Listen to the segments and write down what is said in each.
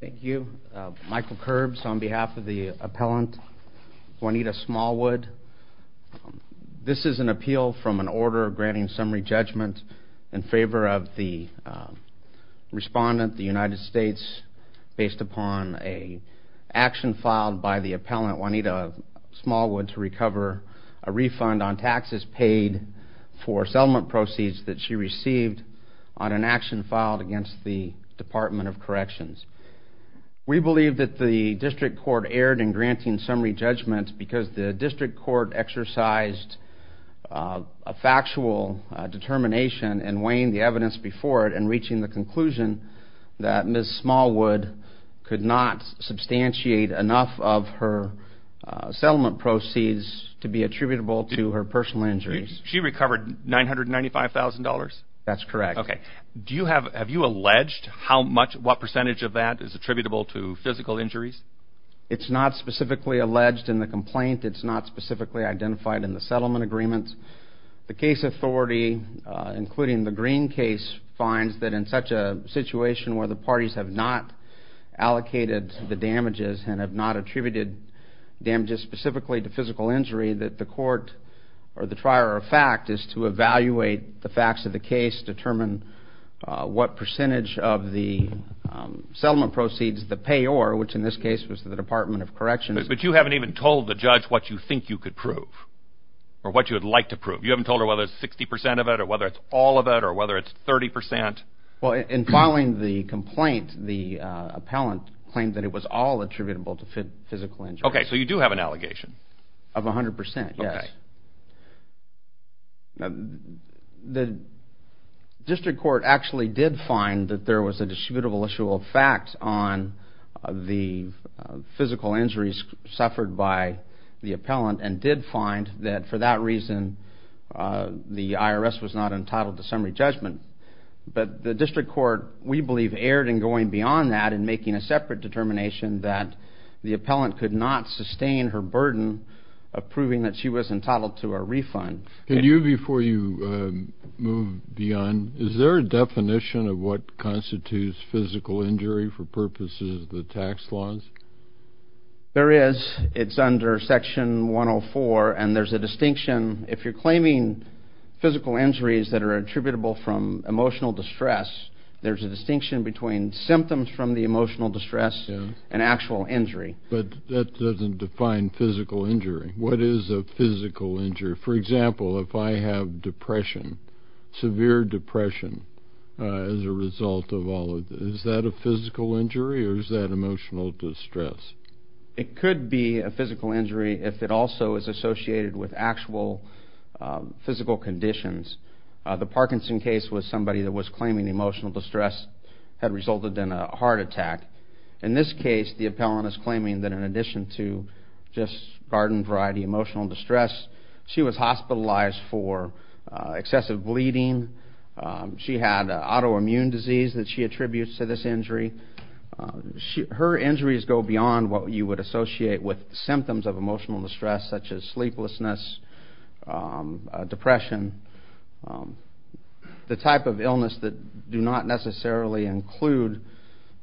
Thank you. Michael Kerbs on behalf of the appellant Juanita Smallwood. This is an appeal from an order granting summary judgment in favor of the respondent, the United States, based upon an action filed by the appellant Juanita Smallwood to recover a refund on taxes paid for settlement proceeds that she received on an action filed against the Department of Corrections. We believe that the district court erred in granting summary judgment because the district court exercised a factual determination in weighing the evidence before it and reaching the conclusion that Ms. Smallwood could not substantiate enough of her settlement proceeds to be attributable to her personal injuries. She recovered $995,000? That's correct. Okay. Have you alleged what percentage of that is attributable to physical injuries? It's not specifically alleged in the complaint. It's not specifically identified in the settlement agreement. The case authority, including the Green case, finds that in such a situation where the parties have not allocated the damages and have not attributed damages specifically to physical injury, that the court or the trier of fact is to evaluate the facts of the case, determine what percentage of the settlement proceeds the payor, which in this case was the Department of Corrections... You haven't told her whether it's 60% of it or whether it's all of it or whether it's 30%? Well, in filing the complaint, the appellant claimed that it was all attributable to physical injuries. Okay, so you do have an allegation? Of 100%, yes. The district court actually did find that there was a distributable issue of facts on the physical injuries suffered by the appellant and did find that for that reason the IRS was not entitled to summary judgment. But the district court, we believe, erred in going beyond that and making a separate determination that the appellant could not sustain her burden of proving that she was entitled to a refund. Can you, before you move beyond, is there a definition of what constitutes physical injury for purposes of the tax laws? There is. It's under Section 104, and there's a distinction. If you're claiming physical injuries that are attributable from emotional distress, there's a distinction between symptoms from the emotional distress and actual injury. But that doesn't define physical injury. What is a physical injury? For example, if I have depression, severe depression as a result of all of this, is that a physical injury or is that emotional distress? It could be a physical injury if it also is associated with actual physical conditions. The Parkinson case was somebody that was claiming emotional distress had resulted in a heart attack. In this case, the appellant is claiming that in addition to just garden variety emotional distress, she was hospitalized for excessive bleeding. She had autoimmune disease that she attributes to this injury. Her injuries go beyond what you would associate with symptoms of emotional distress such as sleeplessness, depression, the type of illness that do not necessarily include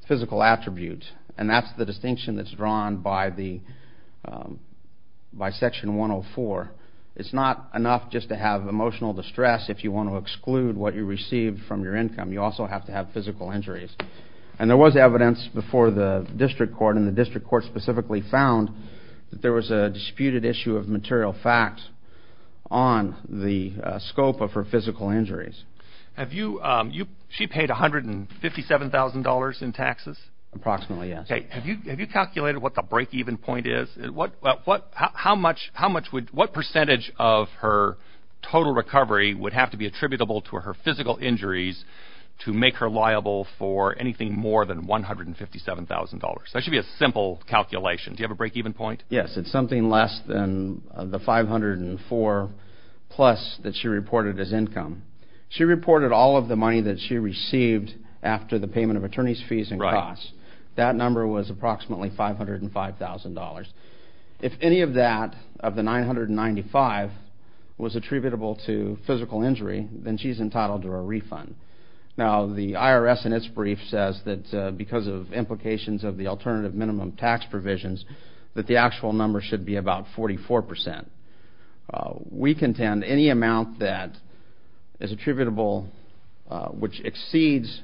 physical attributes. And that's the distinction that's drawn by Section 104. It's not enough just to have emotional distress if you want to exclude what you received from your income. You also have to have physical injuries. And there was evidence before the district court and the district court specifically found that there was a disputed issue of material facts on the scope of her physical injuries. She paid $157,000 in taxes? Approximately, yes. Have you calculated what the break-even point is? What percentage of her total recovery would have to be attributable to her physical injuries to make her liable for anything more than $157,000? That should be a simple calculation. Do you have a break-even point? Yes, it's something less than the $504,000 plus that she reported as income. She reported all of the money that she received after the payment of attorney's fees and costs. That number was approximately $505,000. If any of that, of the $995,000, was attributable to physical injury, then she's entitled to a refund. Now, the IRS in its brief says that because of implications of the alternative minimum tax provisions that the actual number should be about 44%. We contend any amount that is attributable, which exceeds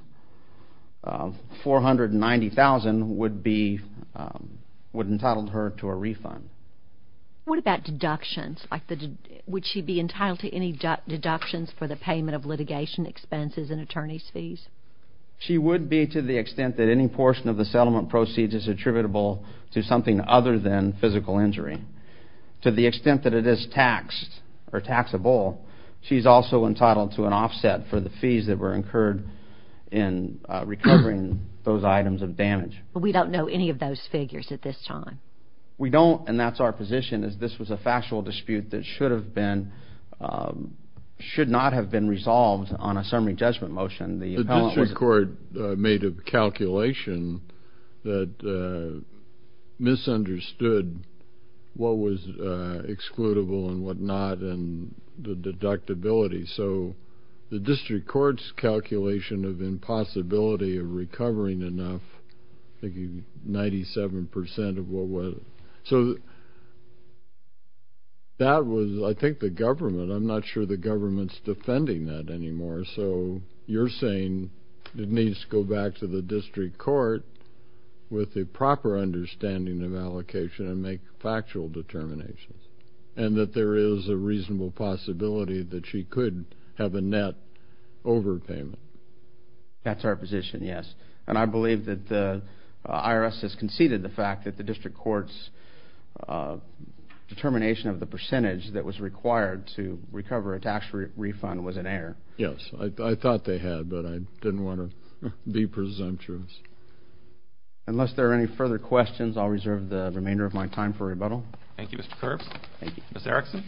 $490,000, would entitle her to a refund. What about deductions? Would she be entitled to any deductions for the payment of litigation expenses and attorney's fees? She would be to the extent that any portion of the settlement proceeds is attributable to something other than physical injury. To the extent that it is taxed or taxable, she's also entitled to an offset for the fees that were incurred in recovering those items of damage. But we don't know any of those figures at this time. We don't, and that's our position, is this was a factual dispute that should not have been resolved on a summary judgment motion. The district court made a calculation that misunderstood what was excludable and what not, and the deductibility. So the district court's calculation of impossibility of recovering enough, I think 97% of what was, so that was, I think, the government. The government's defending that anymore, so you're saying it needs to go back to the district court with a proper understanding of allocation and make factual determinations, and that there is a reasonable possibility that she could have a net overpayment. That's our position, yes, and I believe that the IRS has conceded the fact that the district court's determination of the percentage that was required to recover a tax refund was in error. Yes, I thought they had, but I didn't want to be presumptuous. Unless there are any further questions, I'll reserve the remainder of my time for rebuttal. Thank you, Mr. Kerr. Thank you. Ms. Erickson.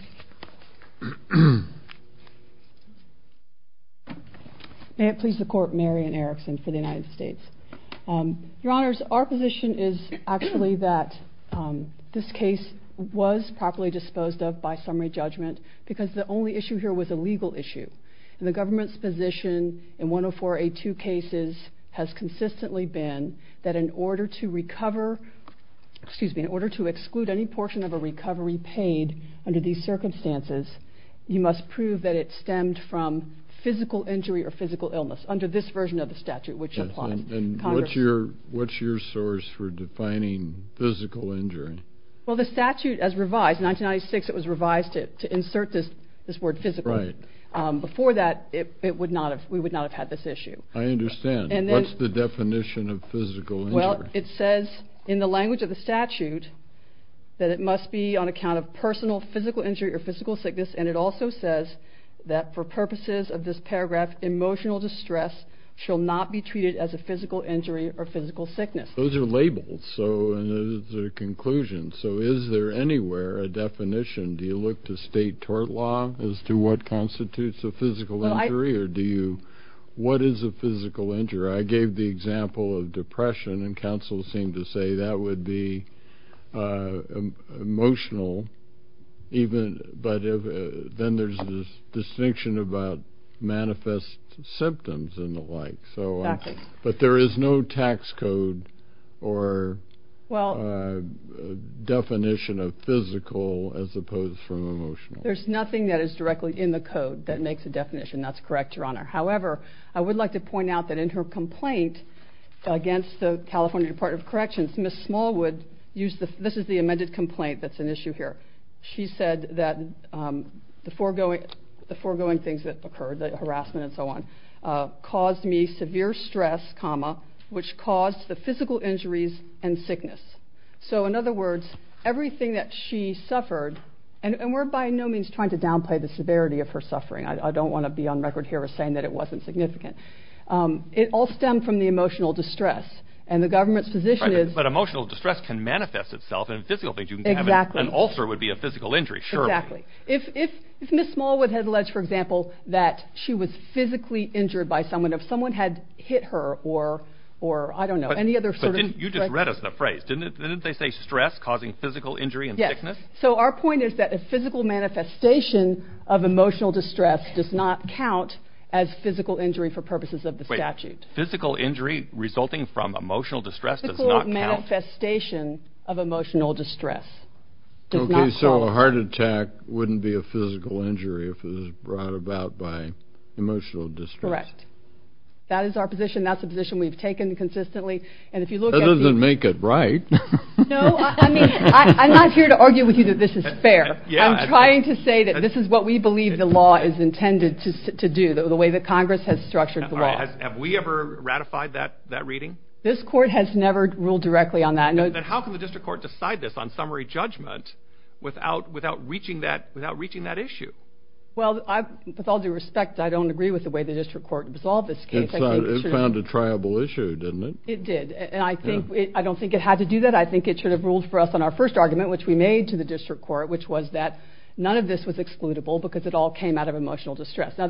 May it please the Court, Marion Erickson for the United States. Your Honors, our position is actually that this case was properly disposed of by summary judgment because the only issue here was a legal issue, and the government's position in 104A2 cases has consistently been that in order to recover, excuse me, in order to exclude any portion of a recovery paid under these circumstances, you must prove that it stemmed from physical injury or physical illness under this version of the statute, which applies. And what's your source for defining physical injury? Well, the statute, as revised, in 1996 it was revised to insert this word physical. Before that, we would not have had this issue. I understand. What's the definition of physical injury? Well, it says in the language of the statute that it must be on account of personal physical injury or physical sickness, and it also says that for purposes of this paragraph, emotional distress shall not be treated as a physical injury or physical sickness. Those are labels, so it's a conclusion. So is there anywhere a definition? Do you look to state tort law as to what constitutes a physical injury? What is a physical injury? I gave the example of depression, and counsel seemed to say that would be emotional, but then there's this distinction about manifest symptoms and the like. But there is no tax code or definition of physical as opposed to emotional. There's nothing that is directly in the code that makes a definition. That's correct, Your Honor. However, I would like to point out that in her complaint against the California Department of Corrections, this is the amended complaint that's an issue here. She said that the foregoing things that occurred, the harassment and so on, caused me severe stress, comma, which caused the physical injuries and sickness. So in other words, everything that she suffered, and we're by no means trying to downplay the severity of her suffering. I don't want to be on record here as saying that it wasn't significant. It all stemmed from the emotional distress, and the government's position is that emotional distress can manifest itself in physical things. An ulcer would be a physical injury, surely. Exactly. If Ms. Smallwood had alleged, for example, that she was physically injured by someone, if someone had hit her or, I don't know, any other sort of... But you just read us the phrase. Didn't they say stress causing physical injury and sickness? Yes. So our point is that a physical manifestation of emotional distress does not count as physical injury for purposes of the statute. Physical injury resulting from emotional distress does not count. Physical manifestation of emotional distress does not count. Okay, so a heart attack wouldn't be a physical injury if it was brought about by emotional distress. Correct. That is our position. That's a position we've taken consistently, and if you look at the... That doesn't make it right. No, I mean, I'm not here to argue with you that this is fair. I'm trying to say that this is what we believe the law is intended to do, the way that Congress has structured the law. Have we ever ratified that reading? This court has never ruled directly on that. Then how can the district court decide this on summary judgment without reaching that issue? Well, with all due respect, I don't agree with the way the district court resolved this case. It found a triable issue, didn't it? It did, and I don't think it had to do that. I think it should have ruled for us on our first argument, which we made to the district court, which was that none of this was excludable because it all came out of emotional distress. Ed,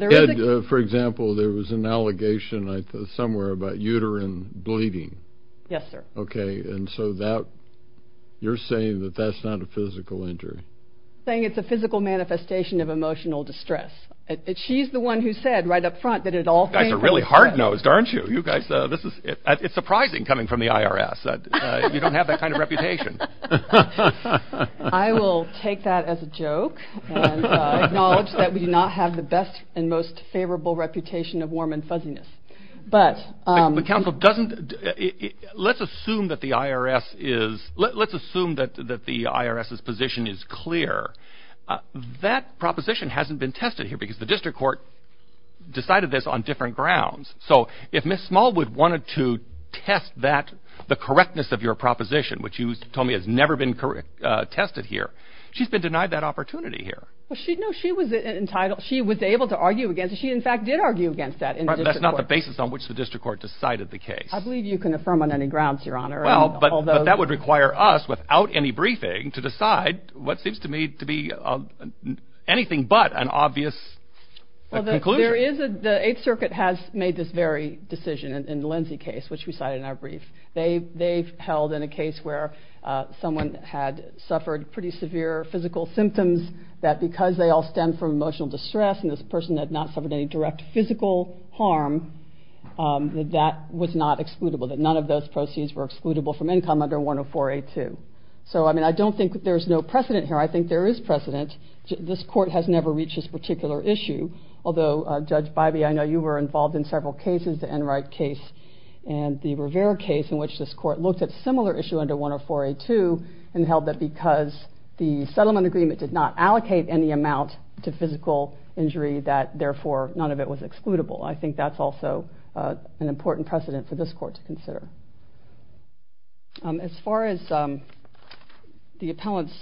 for example, there was an allegation somewhere about uterine bleeding. Yes, sir. Okay, and so you're saying that that's not a physical injury? I'm saying it's a physical manifestation of emotional distress. She's the one who said right up front that it all came from stress. You guys are really hard-nosed, aren't you? It's surprising coming from the IRS. You don't have that kind of reputation. I will take that as a joke and acknowledge that we do not have the best and most favorable reputation of warm and fuzziness. Let's assume that the IRS's position is clear. That proposition hasn't been tested here because the district court decided this on different grounds. So if Ms. Smallwood wanted to test the correctness of your proposition, which you told me has never been tested here, she's been denied that opportunity here. She was able to argue against it. She, in fact, did argue against that in the district court. But that's not the basis on which the district court decided the case. I believe you can affirm on any grounds, Your Honor. But that would require us, without any briefing, to decide what seems to me to be anything but an obvious conclusion. The Eighth Circuit has made this very decision in the Lindsay case, which we cited in our brief. They've held in a case where someone had suffered pretty severe physical symptoms that because they all stem from emotional distress and this person had not suffered any direct physical harm, that that was not excludable, that none of those proceeds were excludable from income under 104A2. So, I mean, I don't think that there's no precedent here. I think there is precedent. This court has never reached this particular issue. Although, Judge Bybee, I know you were involved in several cases, the Enright case and the Rivera case, in which this court looked at a similar issue under 104A2 and held that because the settlement agreement did not allocate any amount to physical injury that, therefore, none of it was excludable. I think that's also an important precedent for this court to consider. As far as the appellant's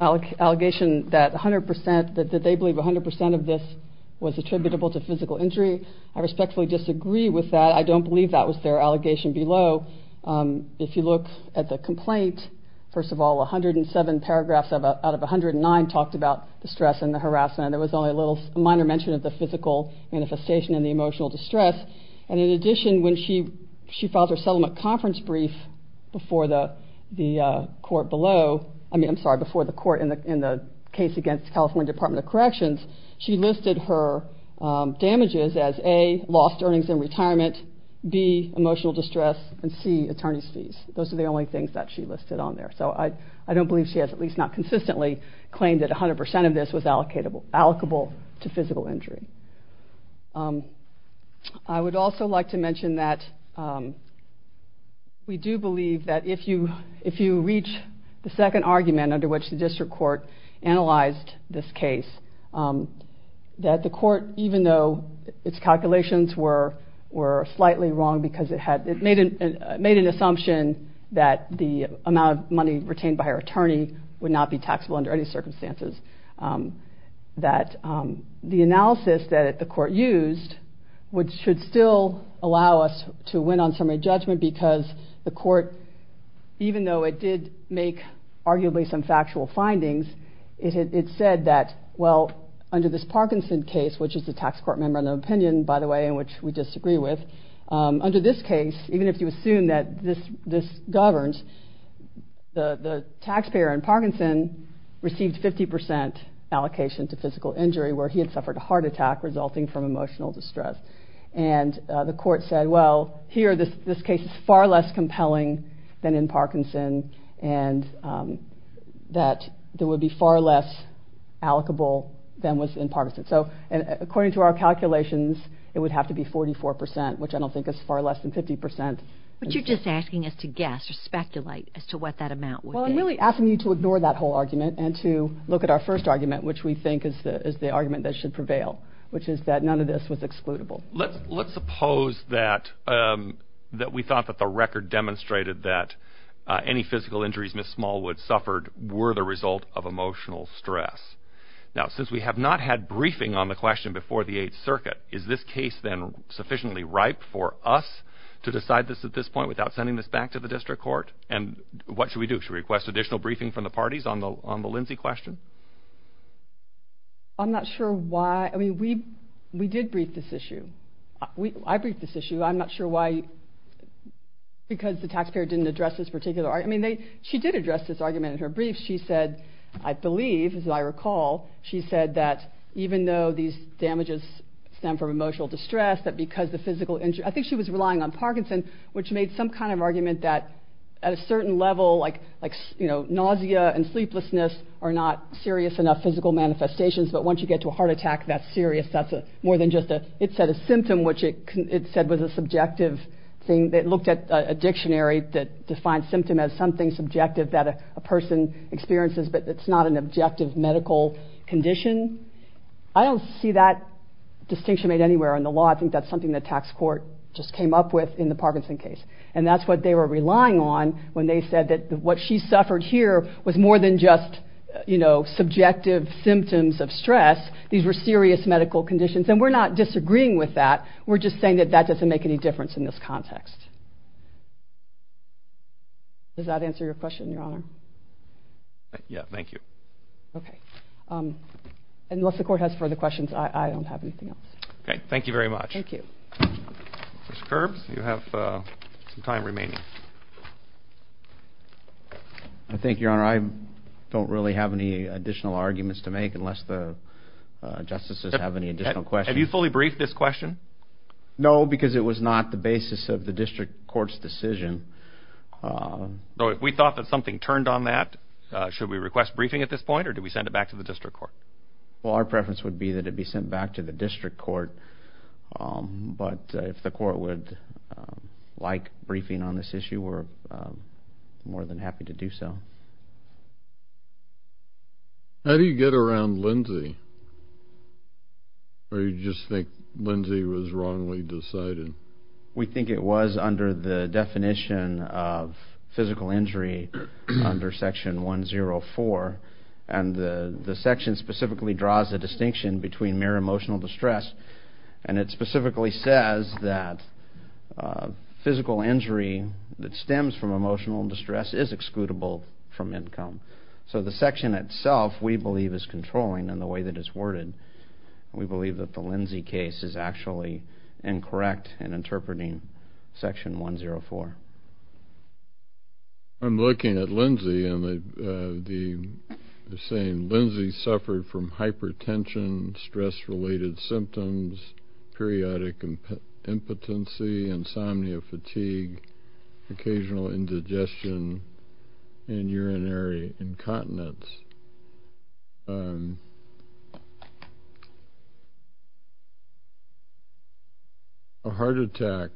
allegation that 100% that they believe 100% of this was attributable to physical injury, I respectfully disagree with that. I don't believe that was their allegation below. If you look at the complaint, first of all, 107 paragraphs out of 109 talked about the stress and the harassment. There was only a minor mention of the physical manifestation and the emotional distress. And in addition, when she filed her settlement conference brief before the court in the case against California Department of Corrections, she listed her damages as A, lost earnings in retirement, B, emotional distress, and C, attorney's fees. Those are the only things that she listed on there. So I don't believe she has at least not consistently claimed that 100% of this was allocable to physical injury. I would also like to mention that we do believe that if you reach the second argument under which the district court analyzed this case, that the court, even though its calculations were slightly wrong because it made an assumption that the amount of money retained by her attorney would not be taxable under any circumstances, that the analysis that the court used should still allow us to win on summary judgment because the court, even though it did make arguably some factual findings, it said that, well, under this Parkinson case, which is the tax court member of the opinion, by the way, in which we disagree with, under this case, even if you assume that this governs, the taxpayer in Parkinson received 50% allocation to physical injury where he had suffered a heart attack resulting from emotional distress. And the court said, well, here this case is far less compelling than in Parkinson and that there would be far less allocable than was in Parkinson. So according to our calculations, it would have to be 44%, which I don't think is far less than 50%. But you're just asking us to guess or speculate as to what that amount would be. Well, I'm really asking you to ignore that whole argument and to look at our first argument, which we think is the argument that should prevail, which is that none of this was excludable. Well, let's suppose that we thought that the record demonstrated that any physical injuries Ms. Smallwood suffered were the result of emotional stress. Now, since we have not had briefing on the question before the Eighth Circuit, is this case then sufficiently ripe for us to decide this at this point without sending this back to the district court? And what should we do? Should we request additional briefing from the parties on the Lindsay question? I'm not sure why... I mean, we did brief this issue. I briefed this issue. I'm not sure why... because the taxpayer didn't address this particular... I mean, she did address this argument in her brief. She said, I believe, as I recall, she said that even though these damages stem from emotional distress, that because the physical injury... I think she was relying on Parkinson, which made some kind of argument that at a certain level, like nausea and sleeplessness are not serious enough physical manifestations, but once you get to a heart attack, that's serious. That's more than just a... It said a symptom, which it said was a subjective thing. It looked at a dictionary that defined symptom as something subjective that a person experiences, but it's not an objective medical condition. I don't see that distinction made anywhere in the law. I think that's something the tax court just came up with in the Parkinson case. And that's what they were relying on when they said that what she suffered here was more than just subjective symptoms of stress. These were serious medical conditions, and we're not disagreeing with that. We're just saying that that doesn't make any difference in this context. Does that answer your question, Your Honor? Yeah, thank you. Okay. Unless the court has further questions, I don't have anything else. Okay, thank you very much. Thank you. Mr. Kerbs, you have some time remaining. I think, Your Honor, I don't really have any additional arguments to make unless the justices have any additional questions. Have you fully briefed this question? No, because it was not the basis of the district court's decision. So if we thought that something turned on that, should we request briefing at this point, or do we send it back to the district court? Well, our preference would be that it be sent back to the district court. But if the court would like briefing on this issue, we're more than happy to do so. How do you get around Lindsay? Or do you just think Lindsay was wrongly decided? We think it was under the definition of physical injury under Section 104, and the section specifically draws a distinction between mere emotional distress, and it specifically says that physical injury that stems from emotional distress is excludable from income. So the section itself, we believe, is controlling in the way that it's worded. We believe that the Lindsay case is actually incorrect in interpreting Section 104. I'm looking at Lindsay, and they're saying Lindsay suffered from hypertension, stress-related symptoms, periodic impotency, insomnia, fatigue, occasional indigestion, and urinary incontinence. A heart attack,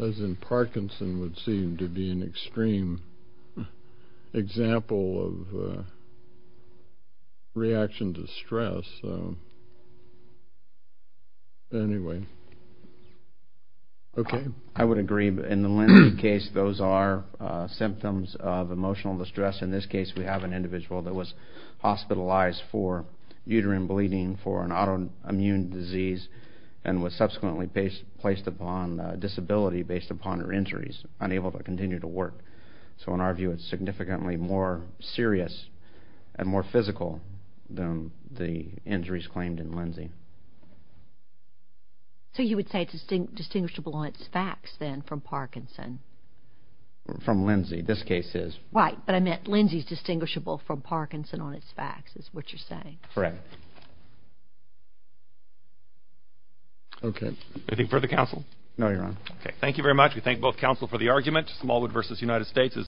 as in Parkinson's, would seem to be an extreme example of reaction to stress. So anyway. Okay. I would agree. In the Lindsay case, those are symptoms of emotional distress. In this case, we have an individual that was diagnosed with a heart attack. She was hospitalized for uterine bleeding for an autoimmune disease and was subsequently placed upon disability based upon her injuries, unable to continue to work. So in our view, it's significantly more serious and more physical than the injuries claimed in Lindsay. So you would say it's distinguishable on its facts then from Parkinson? From Lindsay. This case is. Right, but I meant Lindsay's distinguishable from Parkinson on its facts is what you're saying. Correct. Okay. Anything further, counsel? No, Your Honor. Okay. Thank you very much. We thank both counsel for the argument. Smallwood v. United States.